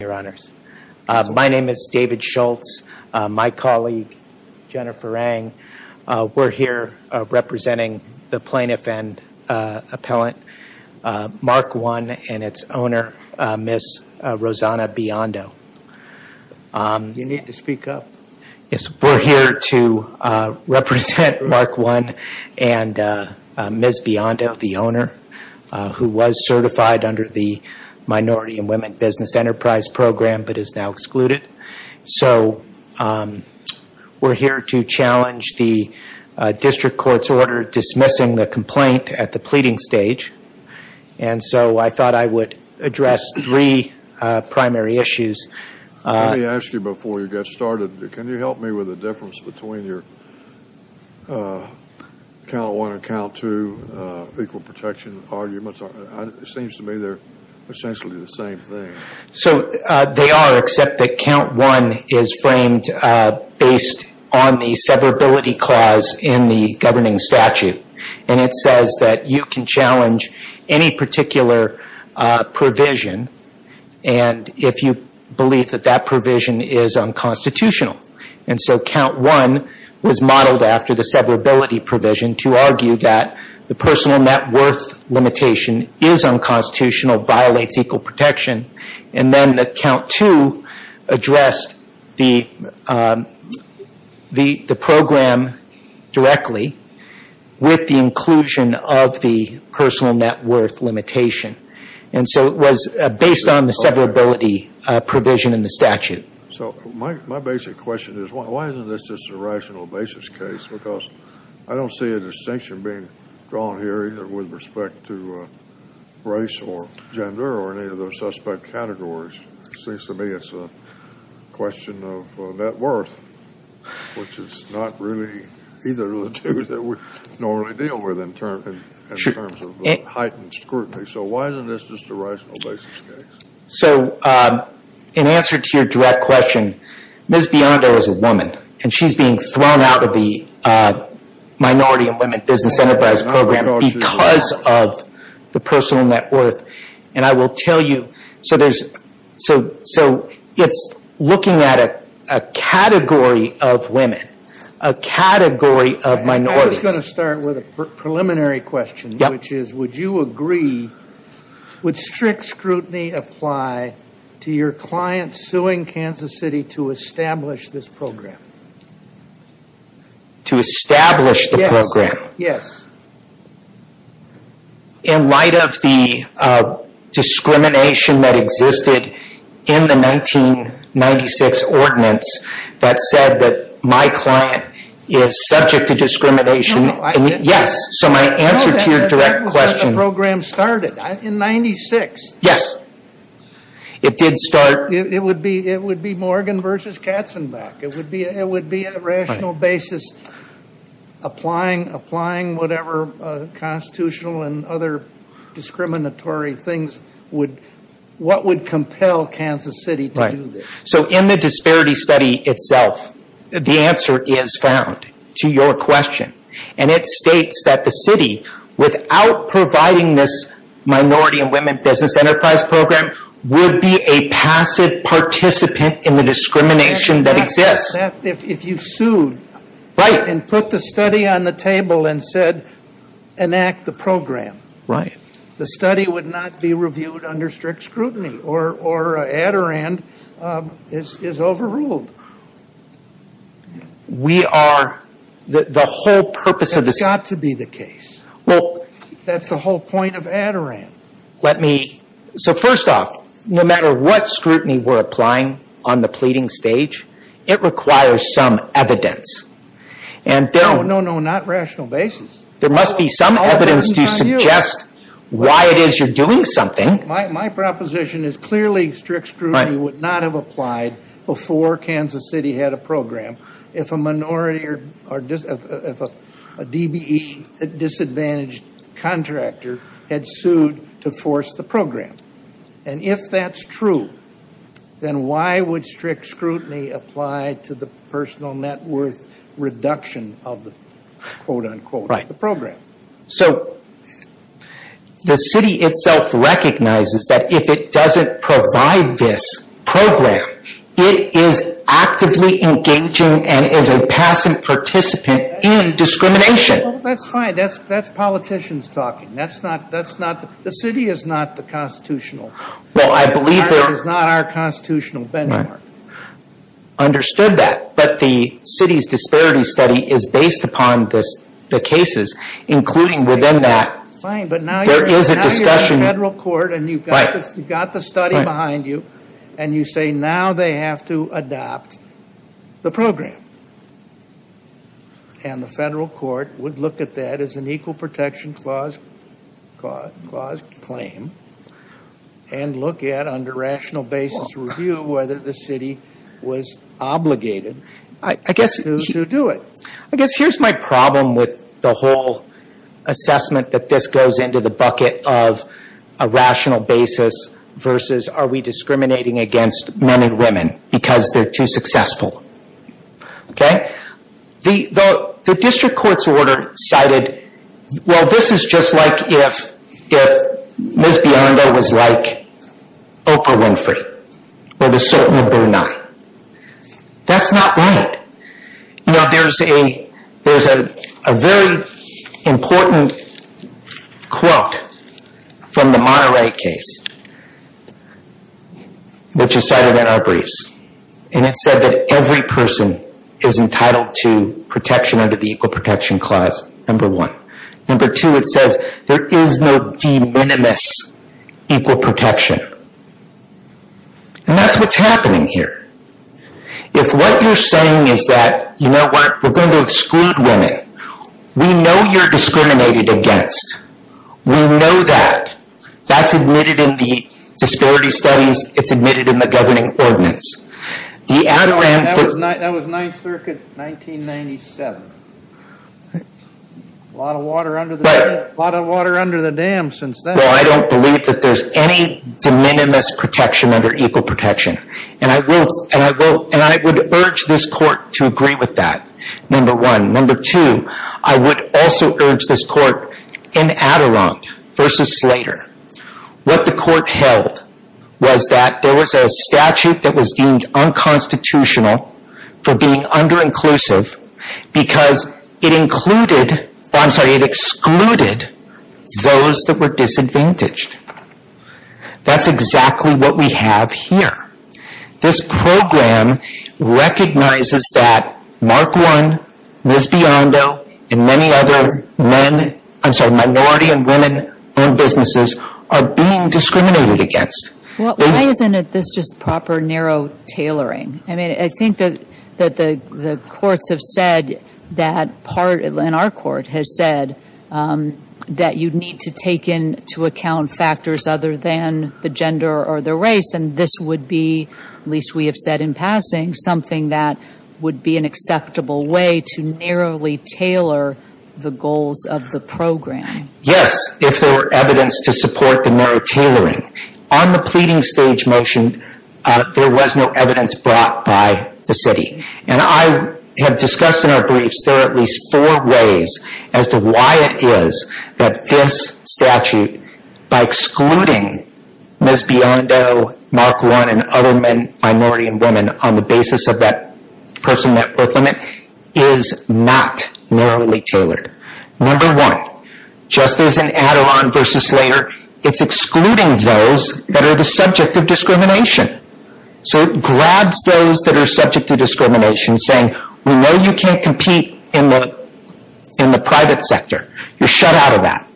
Your Honors. My name is David Schultz. My colleague, Jennifer Ang, we're here representing the plaintiff and appellant Mark One and its owner, Ms. Rosanna Biondo. You need to speak up. We're here to represent Mark One and Ms. Biondo, the owner, who was certified under the Minority and Women Business Enterprise Program but is now excluded. So we're here to challenge the district court's order dismissing the complaint at the pleading stage. And so I thought I would address three primary issues. Let me ask you before you get started, can you help me with the difference between your Count One and Count Two equal protection arguments? It seems to me they're essentially the same thing. So they are, except that Count One is framed based on the severability clause in the governing statute. And it says that you can challenge any particular provision if you believe that that provision is unconstitutional. And so Count One was modeled after the severability provision to argue that the personal net worth limitation is unconstitutional, violates equal protection. And then Count Two addressed the program directly with the inclusion of the personal net worth limitation. And so it was based on the severability provision in the statute. So my basic question is, why isn't this just a rational basis case? Because I don't see a distinction being drawn here either with respect to race or gender or any of those suspect categories. It seems to me it's a question of net worth, which is not really either of the two that we normally deal with in terms of heightened scrutiny. So why isn't this just a rational basis case? So in answer to your direct question, Ms. Biondo is a woman. And she's being thrown out of the Minority and Women Business Enterprise Program because of the personal net worth. And I will tell you, so it's looking at a category of women, a category of minorities. I was going to start with a preliminary question, which is, would you agree, would strict scrutiny apply to your client suing Kansas City to establish this program? To establish the program? Yes. In light of the discrimination that existed in the 1996 ordinance that said that my client is subject to discrimination. No, I didn't. Yes. So my answer to your direct question. No, that was when the program started, in 96. Yes. It did start. It would be Morgan versus Katzenbach. It would be a rational basis applying whatever constitutional and other discriminatory things would, what would compel Kansas City to do this? So in the disparity study itself, the answer is found, to your question. And it states that the city, without providing this Minority and Women Business Enterprise Program, would be a passive participant in the discrimination that exists. If you sued and put the study on the table and said, enact the program, the study would not be reviewed under strict scrutiny, or Adirond is overruled. That's got to be the case. That's the whole point of Adirond. Let me, so first off, no matter what scrutiny we're applying on the pleading stage, it requires some evidence. No, no, no, not rational basis. There must be some evidence to suggest why it is you're doing something. My proposition is clearly strict scrutiny would not have applied before Kansas City had a program if a minority or if a DBE, a disadvantaged contractor, had sued to force the program. And if that's true, then why would strict scrutiny apply to the personal net worth reduction of the, quote unquote, of the program? So the city itself recognizes that if it doesn't provide this program, it is actively engaging and is a passive participant in discrimination. That's fine. That's politicians talking. That's not, that's not, the city is not the constitutional benchmark. Well, I believe that understood that, but the city's disparity study is based upon this, the cases, including within that, there is a discussion. Fine, but now you're in federal court and you've got the study behind you and you say now they have to adopt the program. And the federal court would look at that as an equal protection clause claim and look at under rational basis review whether the city was obligated to do it. I guess here's my problem with the whole assessment that this goes into the bucket of a rational basis versus are we discriminating against men and women because they're too successful? Okay. The, the, the district court's order cited, well, this is just like if, if Ms. Biondo was like Oprah Winfrey or the Sultan of Brunei. That's not right. You know, there's a, there's a, a very important quote from the Monterey case, which is cited in our briefs. And it said that every person is entitled to protection under the equal protection clause, number one. Number two, it says there is no de minimis equal protection and that's what's happening here. If what you're saying is that, you know, we're going to exclude women, we know you're discriminated against. We know that. That's admitted in the disparity studies. It's admitted in the governing ordinance. The ad-ram for- That was 9th Circuit 1997. A lot of water under the, a lot of water under the dam since then. Well, I don't believe that there's any de minimis protection under equal protection. And I will, and I will, and I would urge this court to agree with that, number one. Number two, I would also urge this court in Adirond versus Slater, what the court held was that there was a statute that was deemed unconstitutional for being under-inclusive because it included, I'm sorry, it excluded those that were disadvantaged. That's exactly what we have here. This program recognizes that Mark One, Ms. Biondo, and many other men, I'm sorry, minority and women-owned businesses are being discriminated against. Well, why isn't this just proper narrow tailoring? I mean, I think that the courts have said that part, and our court has said that you'd to take into account factors other than the gender or the race. And this would be, at least we have said in passing, something that would be an acceptable way to narrowly tailor the goals of the program. Yes, if there were evidence to support the narrow tailoring. On the pleading stage motion, there was no evidence brought by the city. And I have discussed in our briefs, there are at least four ways as to why it is that this statute, by excluding Ms. Biondo, Mark One, and other men, minority and women, on the basis of that person met birth limit, is not narrowly tailored. Number one, just as in Adirond versus Slater, it's excluding those that are the subject of discrimination. So it grabs those that are subject to discrimination, saying, we know you can't compete in the private sector. You're shut out of that.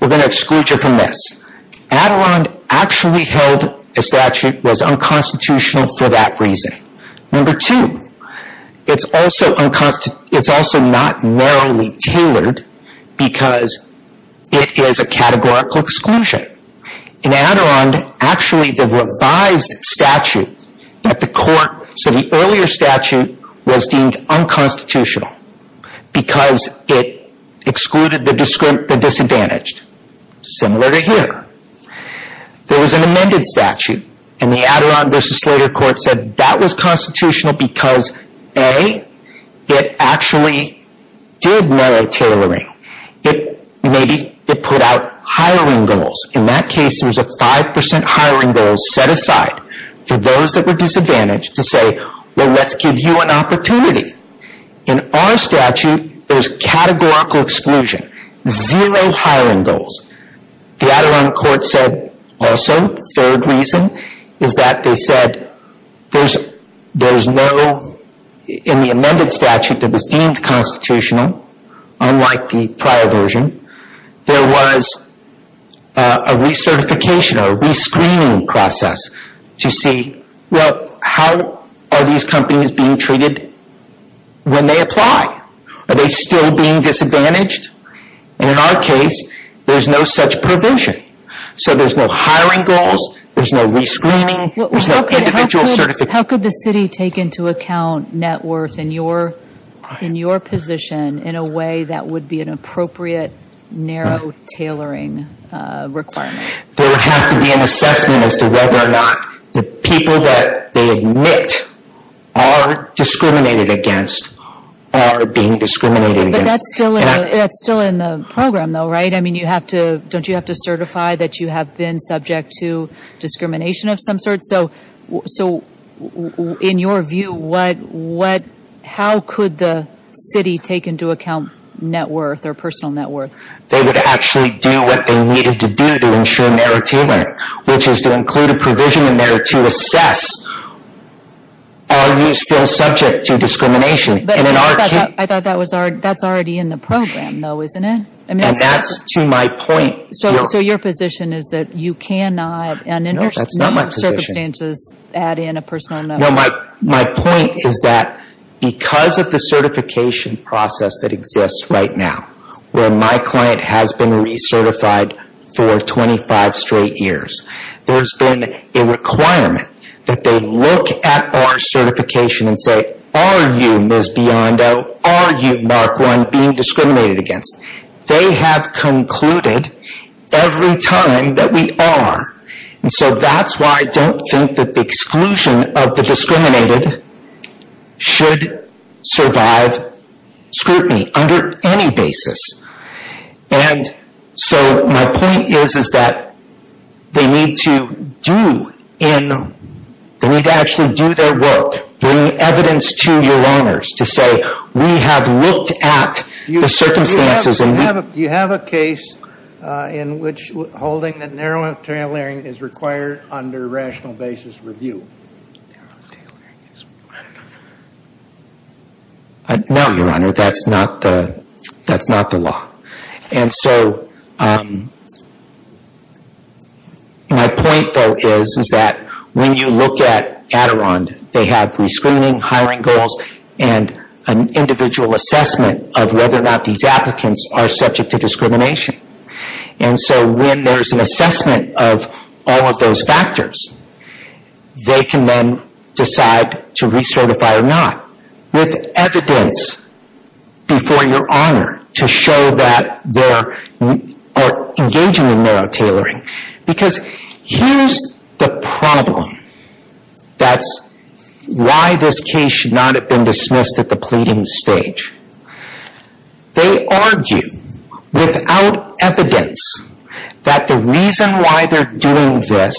We're going to exclude you from this. Adirond actually held a statute that was unconstitutional for that reason. Number two, it's also not narrowly tailored because it is a categorical exclusion. In Adirond, actually the revised statute that the court, so the earlier statute, was deemed unconstitutional because it excluded the disadvantaged, similar to here. There was an amended statute, and the Adirond versus Slater court said that was constitutional because A, it actually did narrow tailoring. B, maybe it put out hiring goals. In that case, there was a 5% hiring goal set aside for those that were disadvantaged to say, well, let's give you an opportunity. In our statute, there's categorical exclusion, zero hiring goals. The Adirond court said also, third reason, is that they said there's no, in the amended statute that was deemed constitutional, unlike the prior version, there was a recertification, a re-screening process to see, well, how are these companies being treated when they apply? Are they still being disadvantaged? In our case, there's no such provision. There's no hiring goals. There's no re-screening. There's no individual certification. How could the city take into account net worth in your position in a way that would be an appropriate narrow tailoring requirement? There would have to be an assessment as to whether or not the people that they admit are discriminated against are being discriminated against. But that's still in the program, though, right? I mean, don't you have to certify that you have been subject to discrimination of some sort? So in your view, how could the city take into account net worth or personal net worth? They would actually do what they needed to do to ensure narrow tailoring, which is to include a provision in there to assess, are you still subject to discrimination? I thought that's already in the program, though, isn't it? And that's to my point. So your position is that you cannot under no circumstances add in a personal net worth? No, that's not my position. My point is that because of the certification process that exists right now, where my client has been recertified for 25 straight years, there's been a requirement that they look at our certification and say, are you, Ms. Biondo, are you, Mark Run, being discriminated against? They have concluded every time that we are. And so that's why I don't think that the exclusion of the discriminated should survive scrutiny under any basis. And so my point is, is that they need to do in, they need to actually do their work, bring evidence to your owners to say we have looked at the circumstances. Do you have a case in which holding that narrow tailoring is required under rational basis review? No, Your Honor, that's not the law. And so my point, though, is that when you look at Adirond, they have rescreening, hiring goals, and an individual assessment of whether or not these applicants are subject to discrimination. And so when there's an assessment of all of those factors, they can then decide to recertify or not. With evidence before your owner to show that they're engaging in narrow tailoring. Because here's the problem. That's why this case should not have been dismissed at the pleading stage. They argue, without evidence, that the reason why they're doing this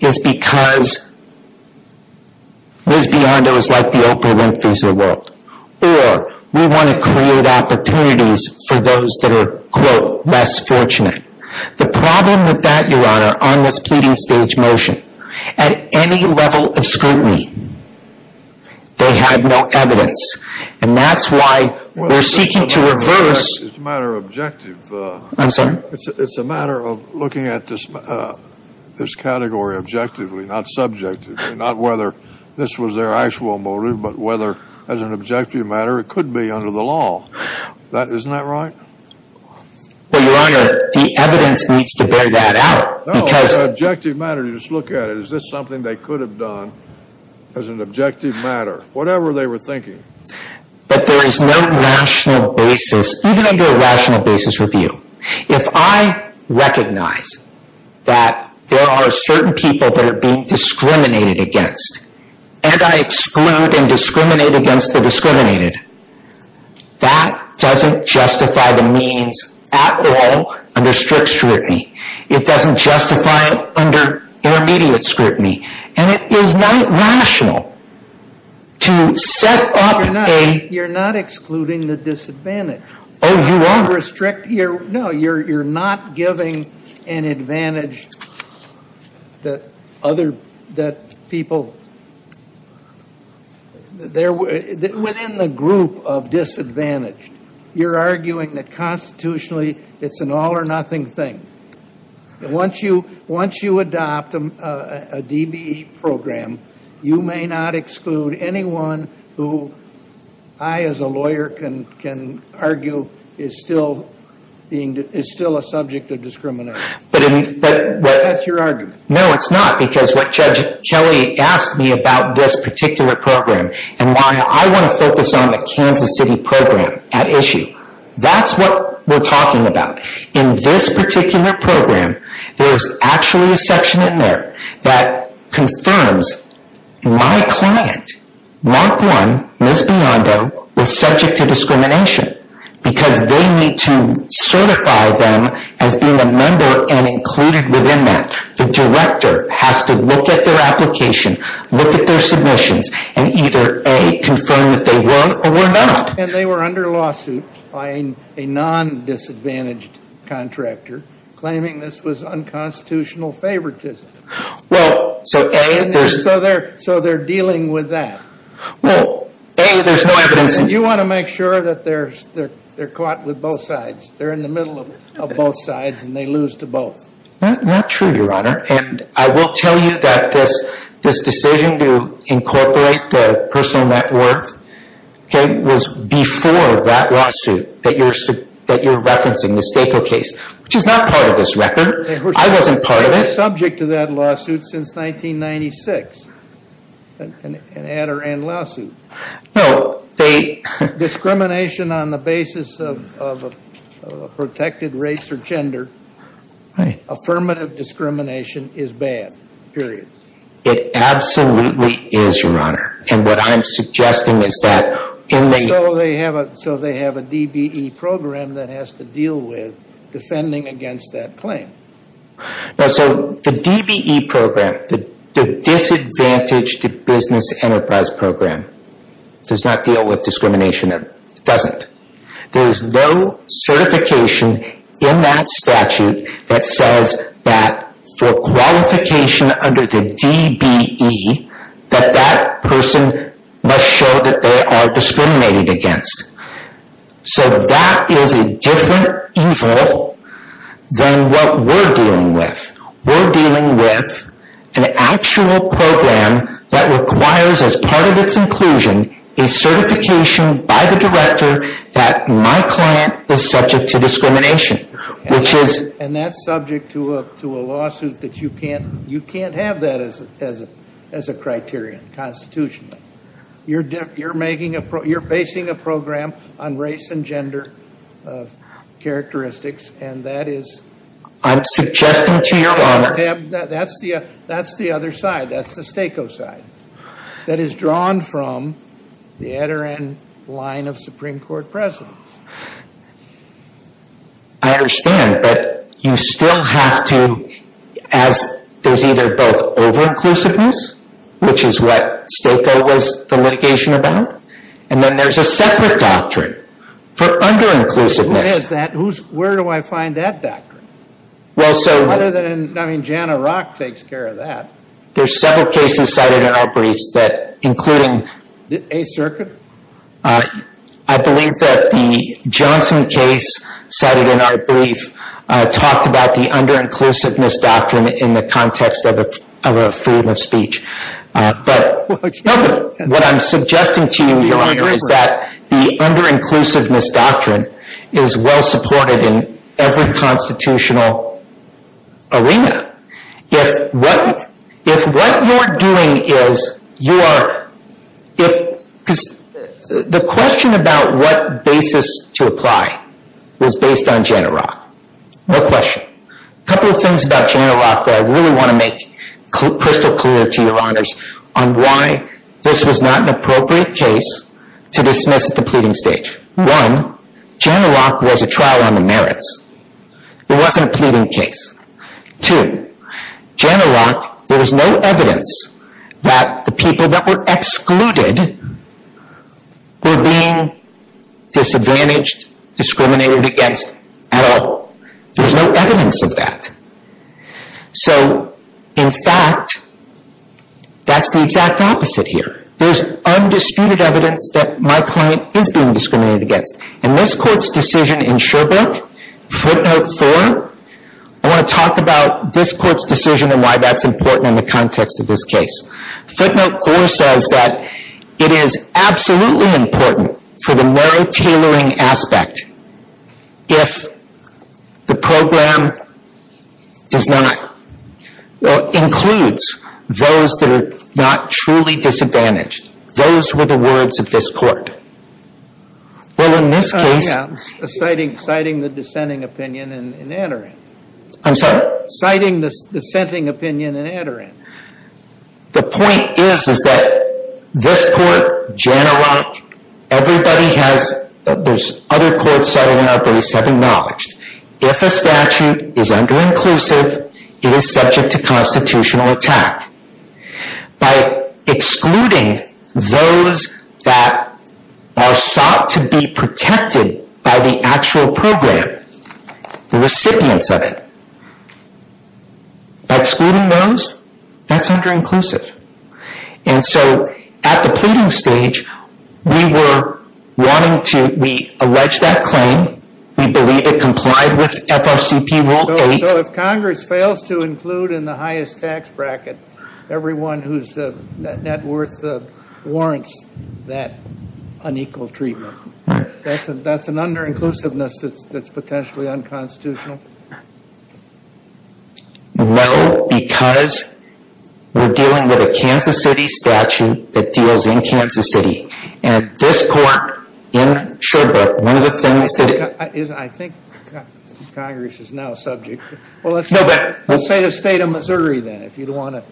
is because Ms. Biondo is like the Oprah Winfrey's of the world. Or we want to create opportunities for those that are, quote, less fortunate. The problem with that, Your Honor, on this pleading stage motion, at any level of scrutiny, they have no evidence. And that's why we're seeking to reverse. It's a matter of objective. I'm sorry? It's a matter of looking at this category objectively, not subjectively. Not whether this was their actual motive, but whether, as an objective matter, it could be under the law. Isn't that right? Well, Your Honor, the evidence needs to bear that out. No, an objective matter, you just look at it. Is this something they could have done as an objective matter? Whatever they were thinking. But there is no rational basis, even under a rational basis review. If I recognize that there are certain people that are being discriminated against, and I exclude and discriminate against the discriminated, that doesn't justify the means at all under strict scrutiny. It doesn't justify it under intermediate scrutiny. And it is not rational to set up a... You're not excluding the disadvantaged. Oh, Your Honor. No, you're not giving an advantage that other people... Within the group of disadvantaged, you're arguing that constitutionally it's an all or nothing thing. Once you adopt a DBE program, you may not exclude anyone who I, as a lawyer, can argue is still a subject of discrimination. That's your argument. No, it's not, because what Judge Kelly asked me about this particular program, and why I want to focus on the Kansas City program at issue, that's what we're talking about. In this particular program, there's actually a section in there that confirms my client, Mark 1, Ms. Biondo, was subject to discrimination. Because they need to certify them as being a member and included within that. The director has to look at their application, look at their submissions, and either A, confirm that they were or were not. And they were under lawsuit by a non-disadvantaged contractor, claiming this was unconstitutional favoritism. Well, so A, there's... So they're dealing with that. Well, A, there's no evidence... You want to make sure that they're caught with both sides. They're in the middle of both sides, and they lose to both. Not true, Your Honor. And I will tell you that this decision to incorporate the personal net worth was before that lawsuit that you're referencing, the Stakeo case. Which is not part of this record. I wasn't part of it. They've been subject to that lawsuit since 1996. An add or end lawsuit. No, they... Discrimination on the basis of a protected race or gender. Right. Affirmative discrimination is bad, period. It absolutely is, Your Honor. And what I'm suggesting is that... So they have a DBE program that has to deal with defending against that claim. No, so the DBE program, the Disadvantaged Business Enterprise Program, does not deal with discrimination. It doesn't. There is no certification in that statute that says that for qualification under the DBE, that that person must show that they are discriminated against. So that is a different evil than what we're dealing with. We're dealing with an actual program that requires, as part of its inclusion, a certification by the director that my client is subject to discrimination. Which is... And that's subject to a lawsuit that you can't have that as a criterion, constitutionally. You're basing a program on race and gender characteristics, and that is... I'm suggesting to Your Honor... That's the other side. That's the STACO side. That is drawn from the Adirondack line of Supreme Court presidents. I understand, but you still have to... There's either both over-inclusiveness, which is what STACO was the litigation about, and then there's a separate doctrine for under-inclusiveness. What is that? Where do I find that doctrine? Well, so... Other than, I mean, Jana Rock takes care of that. There's several cases cited in our briefs that, including... A Circuit? I believe that the Johnson case cited in our brief talked about the under-inclusiveness doctrine in the context of a freedom of speech. What I'm suggesting to you, Your Honor, is that the under-inclusiveness doctrine is well supported in every constitutional arena. If what you're doing is... The question about what basis to apply was based on Jana Rock. No question. A couple of things about Jana Rock that I really want to make crystal clear to you, Your Honors, on why this was not an appropriate case to dismiss at the pleading stage. One, Jana Rock was a trial on the merits. It wasn't a pleading case. Two, Jana Rock, there was no evidence that the people that were excluded were being disadvantaged, discriminated against at all. There's no evidence of that. So, in fact, that's the exact opposite here. There's undisputed evidence that my client is being discriminated against. In this Court's decision in Sherbrooke, footnote four, I want to talk about this Court's decision and why that's important in the context of this case. Footnote four says that it is absolutely important for the narrow tailoring aspect if the program includes those that are not truly disadvantaged. Those were the words of this Court. Well, in this case... I am citing the dissenting opinion and entering. I'm sorry? Citing the dissenting opinion and entering. The point is, is that this Court, Jana Rock, everybody has... There's other courts settled in our base have acknowledged. If a statute is under-inclusive, it is subject to constitutional attack. By excluding those that are sought to be protected by the actual program, the recipients of it... By excluding those, that's under-inclusive. And so, at the pleading stage, we were wanting to... We alleged that claim. We believe it complied with FRCP rule eight. So, if Congress fails to include in the highest tax bracket everyone whose net worth warrants that unequal treatment, that's an under-inclusiveness that's potentially unconstitutional? No, because we're dealing with a Kansas City statute that deals in Kansas City. And this Court in Sherbrooke, one of the things that... I think Congress is now subject to... No, but... Let's say the state of Missouri then, if you'd want to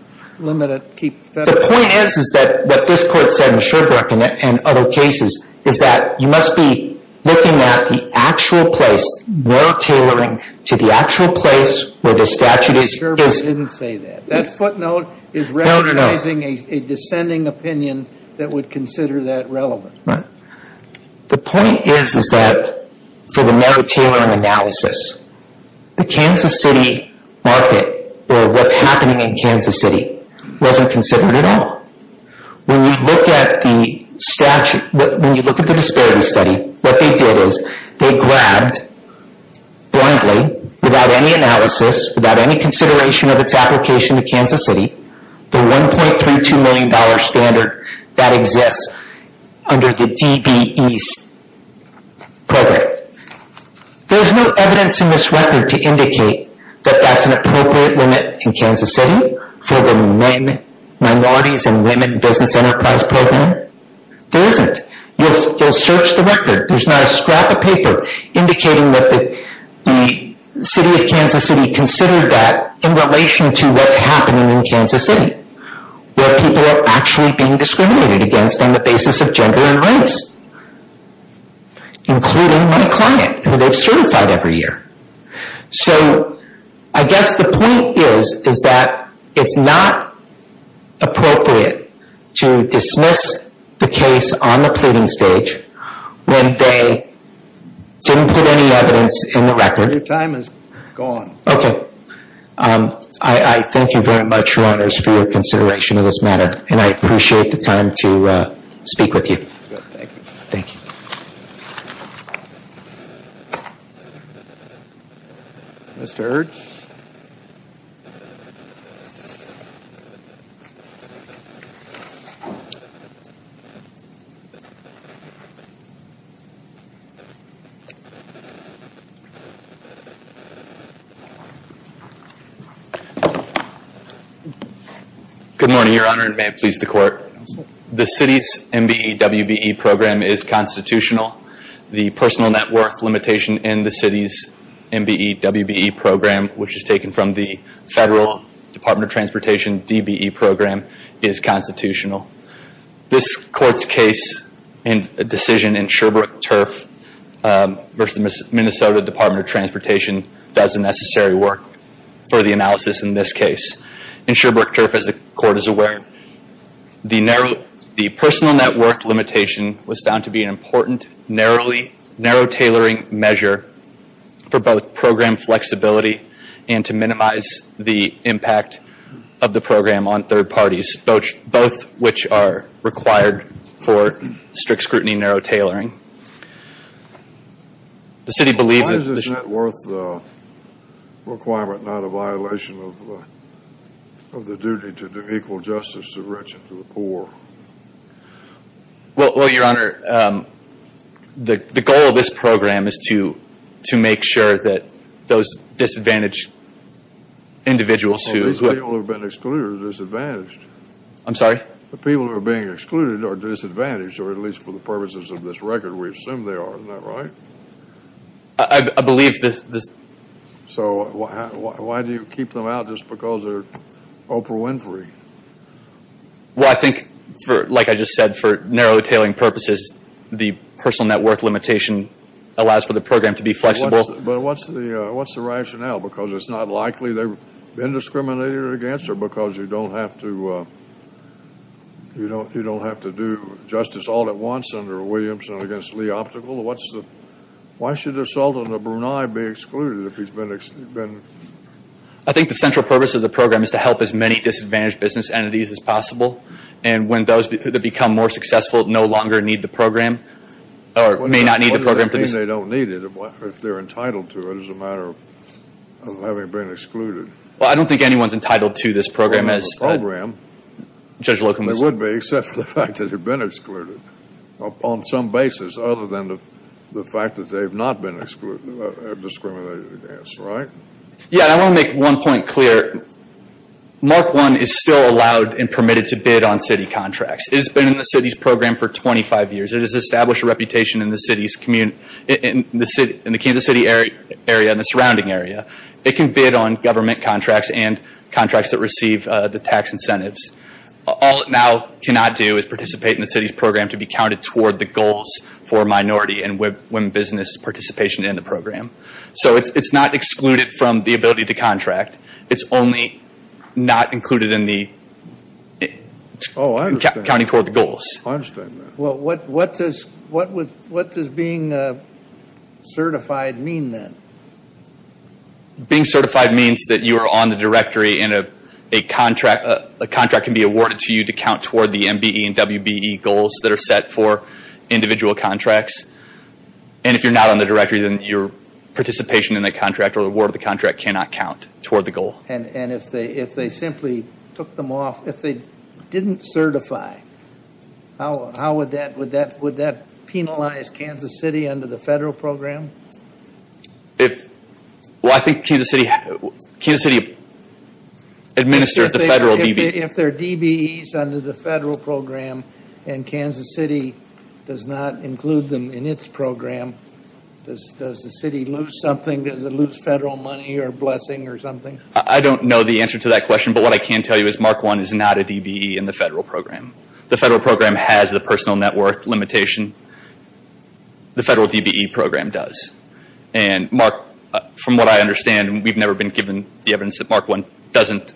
limit it, keep... The point is, is that what this Court said in Sherbrooke and other cases, is that you must be looking at the actual place. Merit-tailoring to the actual place where the statute is... Sherbrooke didn't say that. That footnote is recognizing a descending opinion that would consider that relevant. The point is, is that for the merit-tailoring analysis, the Kansas City market, or what's happening in Kansas City, wasn't considered at all. When you look at the disparity study, what they did is, they grabbed, blindly, without any analysis, without any consideration of its application to Kansas City, the $1.32 million standard that exists under the DBE program. There's no evidence in this record to indicate that that's an appropriate limit in Kansas City for the men, minorities, and women business enterprise program. There isn't. You'll search the record. There's not a scrap of paper indicating that the city of Kansas City considered that in relation to what's happening in Kansas City, where people are actually being discriminated against on the basis of gender and race, including my client, who they've certified every year. So, I guess the point is, is that it's not appropriate to dismiss the case on the pleading stage when they didn't put any evidence in the record. Your time is gone. Okay. I thank you very much, Your Honors, for your consideration of this matter, and I appreciate the time to speak with you. Thank you. Thank you. Mr. Ertz? Good morning, Your Honor, and may it please the Court. The city's MBE-WBE program is constitutional. The personal net worth limitation in the city's MBE-WBE program, which is taken from the Federal Department of Transportation DBE program, is constitutional. This Court's case and decision in Sherbrooke Turf versus the Minnesota Department of Transportation does the necessary work for the analysis in this case. In Sherbrooke Turf, as the Court is aware, the personal net worth limitation was found to be an important, narrow-tailoring measure for both program flexibility and to minimize the impact of the program on third parties, both which are required for strict scrutiny and narrow-tailoring. The city believes that the Why is the net worth requirement not a violation of the duty to do equal justice to the rich and to the poor? Well, Your Honor, the goal of this program is to make sure that those disadvantaged individuals who The people who have been excluded are disadvantaged. I'm sorry? The people who are being excluded are disadvantaged, or at least for the purposes of this record, we assume they are. Isn't that right? I believe this So why do you keep them out just because they're Oprah Winfrey? Well, I think, like I just said, for narrow-tailoring purposes, the personal net worth limitation allows for the program to be flexible. But what's the rationale? Because it's not likely they've been discriminated against? Or because you don't have to do justice all at once under Williamson against Lee Optical? Why should a Sultan of Brunei be excluded if he's been I think the central purpose of the program is to help as many disadvantaged business entities as possible. And when those that become more successful no longer need the program, or may not need the program I don't think they don't need it. If they're entitled to it, it's a matter of having been excluded. Well, I don't think anyone's entitled to this program as Judge Locum They would be, except for the fact that they've been excluded on some basis, other than the fact that they've not been discriminated against. Right? Yeah, and I want to make one point clear. Mark I is still allowed and permitted to bid on city contracts. It has been in the city's program for 25 years. It has established a reputation in the Kansas City area and the surrounding area. It can bid on government contracts and contracts that receive the tax incentives. All it now cannot do is participate in the city's program to be counted toward the goals for minority and women business participation in the program. So it's not excluded from the ability to contract. It's only not included in the Oh, I understand. Counting toward the goals. I understand that. Well, what does being certified mean then? Being certified means that you are on the directory and a contract can be awarded to you to count toward the MBE and WBE goals that are set for individual contracts. And if you're not on the directory, then your participation in the contract or award of the contract cannot count toward the goal. And if they simply took them off, if they didn't certify, would that penalize Kansas City under the federal program? Well, I think Kansas City administers the federal DBE. And Kansas City does not include them in its program. Does the city lose something? Does it lose federal money or blessing or something? I don't know the answer to that question. But what I can tell you is Mark 1 is not a DBE in the federal program. The federal program has the personal net worth limitation. The federal DBE program does. And Mark, from what I understand, we've never been given the evidence that Mark 1 doesn't.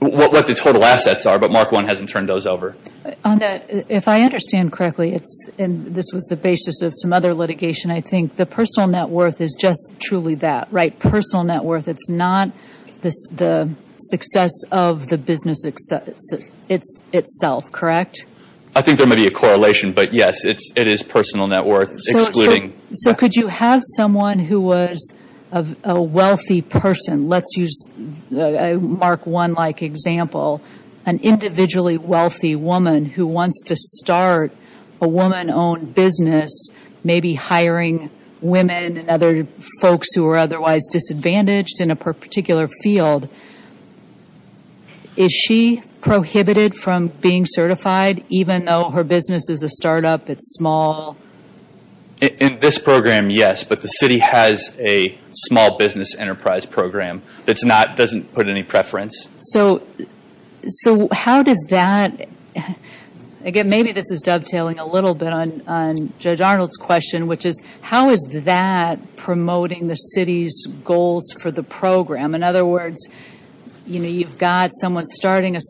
What the total assets are, but Mark 1 hasn't turned those over. If I understand correctly, and this was the basis of some other litigation, I think the personal net worth is just truly that, right? Personal net worth. It's not the success of the business itself, correct? I think there may be a correlation, but yes, it is personal net worth excluding. So could you have someone who was a wealthy person, let's use a Mark 1-like example, an individually wealthy woman who wants to start a woman-owned business, maybe hiring women and other folks who are otherwise disadvantaged in a particular field, is she prohibited from being certified even though her business is a startup, it's small? In this program, yes, but the city has a small business enterprise program that doesn't put any preference. So how does that, again, maybe this is dovetailing a little bit on Judge Arnold's question, which is how is that promoting the city's goals for the program? In other words, you've got someone starting a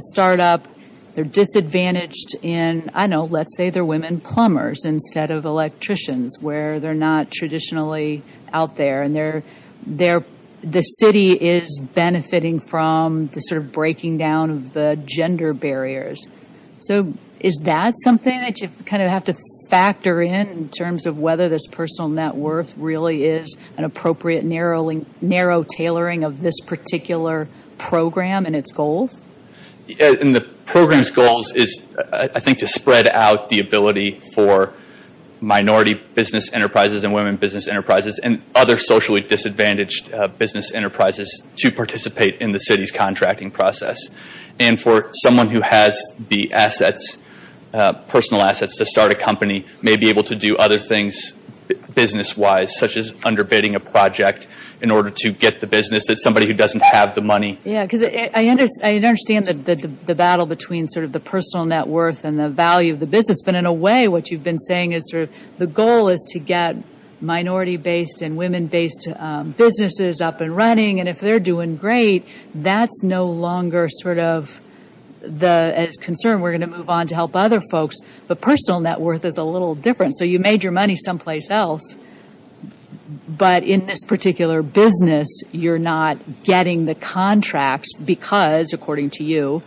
startup, they're disadvantaged in, I don't know, let's say they're women plumbers instead of electricians where they're not traditionally out there, and the city is benefiting from the sort of breaking down of the gender barriers. So is that something that you kind of have to factor in in terms of whether this personal net worth really is an appropriate narrow tailoring of this particular program and its goals? In the program's goals is, I think, to spread out the ability for minority business enterprises and women business enterprises and other socially disadvantaged business enterprises to participate in the city's contracting process. And for someone who has the assets, personal assets to start a company, may be able to do other things business-wise, such as underbidding a project in order to get the business, that's somebody who doesn't have the money. Yeah, because I understand the battle between sort of the personal net worth and the value of the business. But in a way, what you've been saying is sort of the goal is to get minority-based and women-based businesses up and running. And if they're doing great, that's no longer sort of the concern. We're going to move on to help other folks. But personal net worth is a little different. So you made your money someplace else, but in this particular business, you're not getting the contracts because, according to you,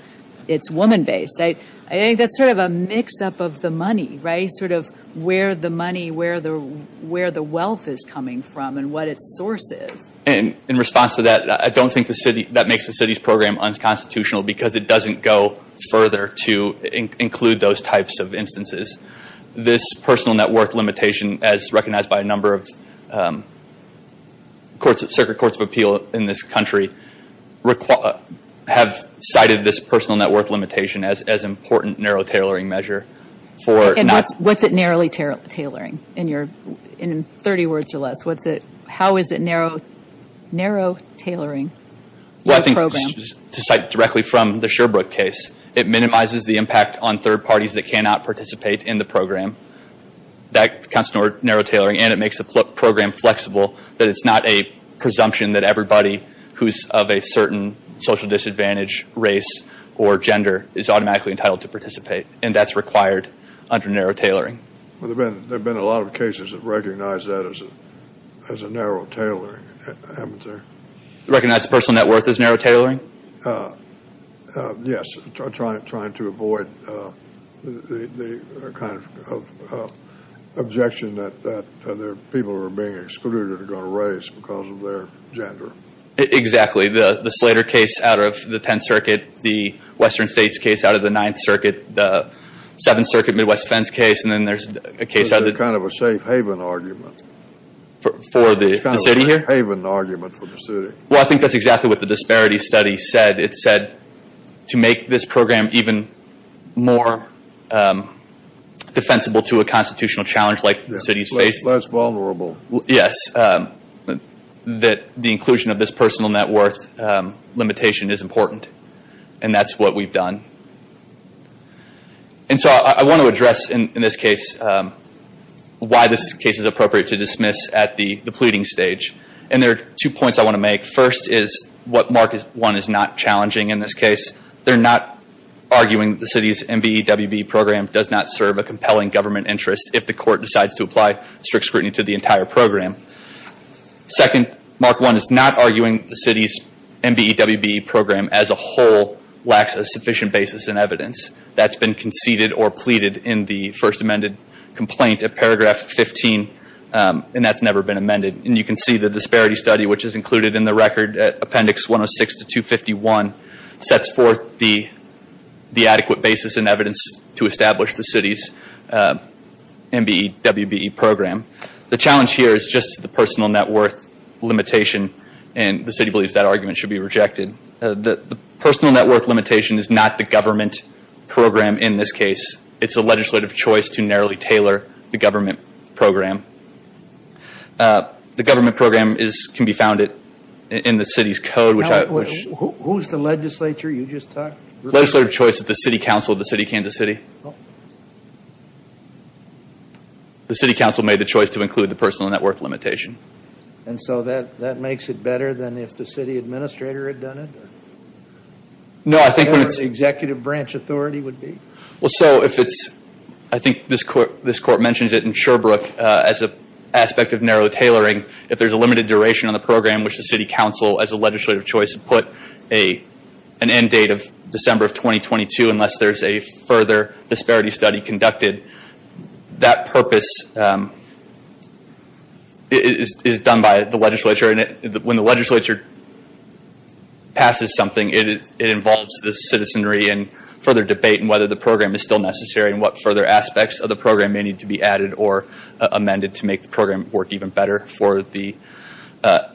it's woman-based. I think that's sort of a mix-up of the money, right? Sort of where the money, where the wealth is coming from and what its source is. In response to that, I don't think that makes the city's program unconstitutional because it doesn't go further to include those types of instances. This personal net worth limitation, as recognized by a number of circuit courts of appeal in this country, have cited this personal net worth limitation as an important narrow tailoring measure. And what's it narrowly tailoring? In 30 words or less, how is it narrow tailoring your program? Well, I think to cite directly from the Sherbrooke case, it minimizes the impact on third parties that cannot participate in the program. That counts as narrow tailoring, and it makes the program flexible, that it's not a presumption that everybody who's of a certain social disadvantage, race, or gender is automatically entitled to participate. And that's required under narrow tailoring. There have been a lot of cases that recognize that as a narrow tailoring. Recognize personal net worth as narrow tailoring? Yes. Trying to avoid the kind of objection that people who are being excluded are going to raise because of their gender. Exactly. The Slater case out of the 10th Circuit, the Western States case out of the 9th Circuit, the 7th Circuit Midwest Fence case, and then there's a case out of the- It's kind of a safe haven argument. For the city here? It's kind of a safe haven argument for the city. Well, I think that's exactly what the disparity study said. It said to make this program even more defensible to a constitutional challenge like the city's faced- Less vulnerable. Yes. That the inclusion of this personal net worth limitation is important. And that's what we've done. And so I want to address in this case why this case is appropriate to dismiss at the pleading stage. And there are two points I want to make. First is what Mark 1 is not challenging in this case. They're not arguing the city's MBEWB program does not serve a compelling government interest if the court decides to apply strict scrutiny to the entire program. Second, Mark 1 is not arguing the city's MBEWB program as a whole lacks a sufficient basis in evidence. That's been conceded or pleaded in the first amended complaint at paragraph 15. And that's never been amended. And you can see the disparity study, which is included in the record at appendix 106 to 251, sets forth the adequate basis in evidence to establish the city's MBEWB program. The challenge here is just the personal net worth limitation. And the city believes that argument should be rejected. The personal net worth limitation is not the government program in this case. It's a legislative choice to narrowly tailor the government program. The government program can be found in the city's code. Who's the legislature you just talked to? Legislative choice of the city council of the city of Kansas City. The city council made the choice to include the personal net worth limitation. And so that makes it better than if the city administrator had done it? No, I think when it's... Or the executive branch authority would be? Well, so if it's... I think this court mentions it in Sherbrooke as an aspect of narrow tailoring. If there's a limited duration on the program, which the city council, as a legislative choice, would put an end date of December of 2022 unless there's a further disparity study conducted, that purpose is done by the legislature. And when the legislature passes something, it involves the citizenry and further debate on whether the program is still necessary and what further aspects of the program may need to be added or amended to make the program work even better for the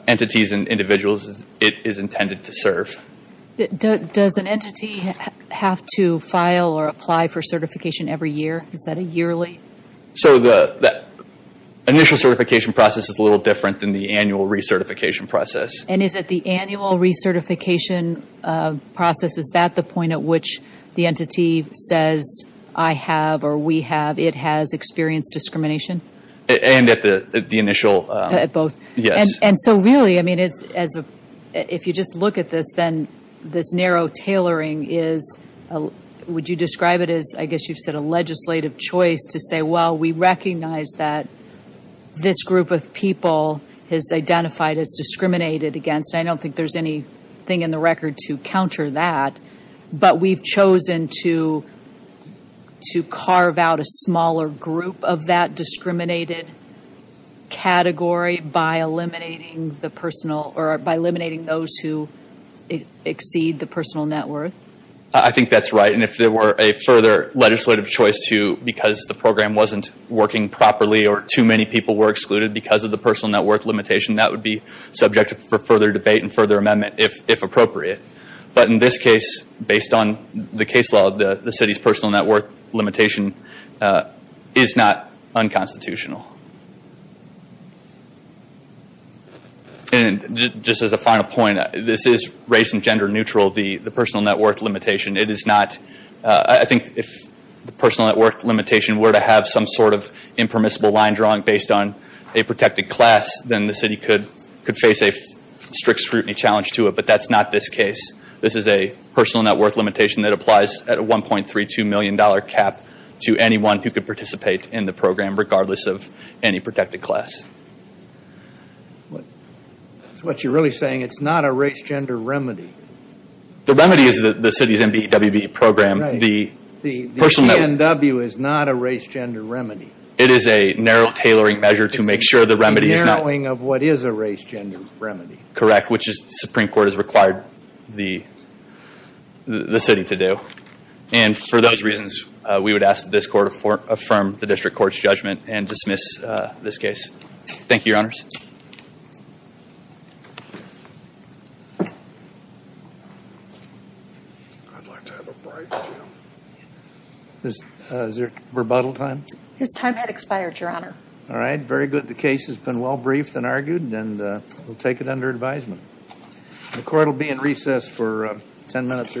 entities and individuals it is intended to serve. Does an entity have to file or apply for certification every year? Is that a yearly? So the initial certification process is a little different than the annual recertification process. And is it the annual recertification process? Is that the point at which the entity says, I have or we have, it has experienced discrimination? And at the initial... At both. Yes. And so really, I mean, if you just look at this, then this narrow tailoring is... Would you describe it as, I guess you've said, a legislative choice to say, well, we recognize that this group of people has identified as discriminated against. I don't think there's anything in the record to counter that. But we've chosen to carve out a smaller group of that discriminated category by eliminating the personal... Or by eliminating those who exceed the personal net worth. I think that's right. And if there were a further legislative choice to, because the program wasn't working properly or too many people were excluded because of the personal net worth limitation, that would be subject for further debate and further amendment, if appropriate. But in this case, based on the case law, the city's personal net worth limitation is not unconstitutional. And just as a final point, this is race and gender neutral, the personal net worth limitation. It is not... I think if the personal net worth limitation were to have some sort of impermissible line drawing based on a protected class, then the city could face a strict scrutiny challenge to it. But that's not this case. This is a personal net worth limitation that applies at a $1.32 million cap to anyone who could participate in the program, regardless of any protected class. That's what you're really saying. It's not a race-gender remedy. The remedy is the city's MBEWB program. Right. The PNW is not a race-gender remedy. It is a narrow tailoring measure to make sure the remedy is not... It's a narrowing of what is a race-gender remedy. Correct. Which the Supreme Court has required the city to do. And for those reasons, we would ask that this court affirm the district court's judgment and dismiss this case. Thank you, Your Honors. I'd like to have a break, too. Is there rebuttal time? His time had expired, Your Honor. All right. Very good. The case has been well briefed and argued, and we'll take it under advisement. The court will be in recess for 10 minutes or so.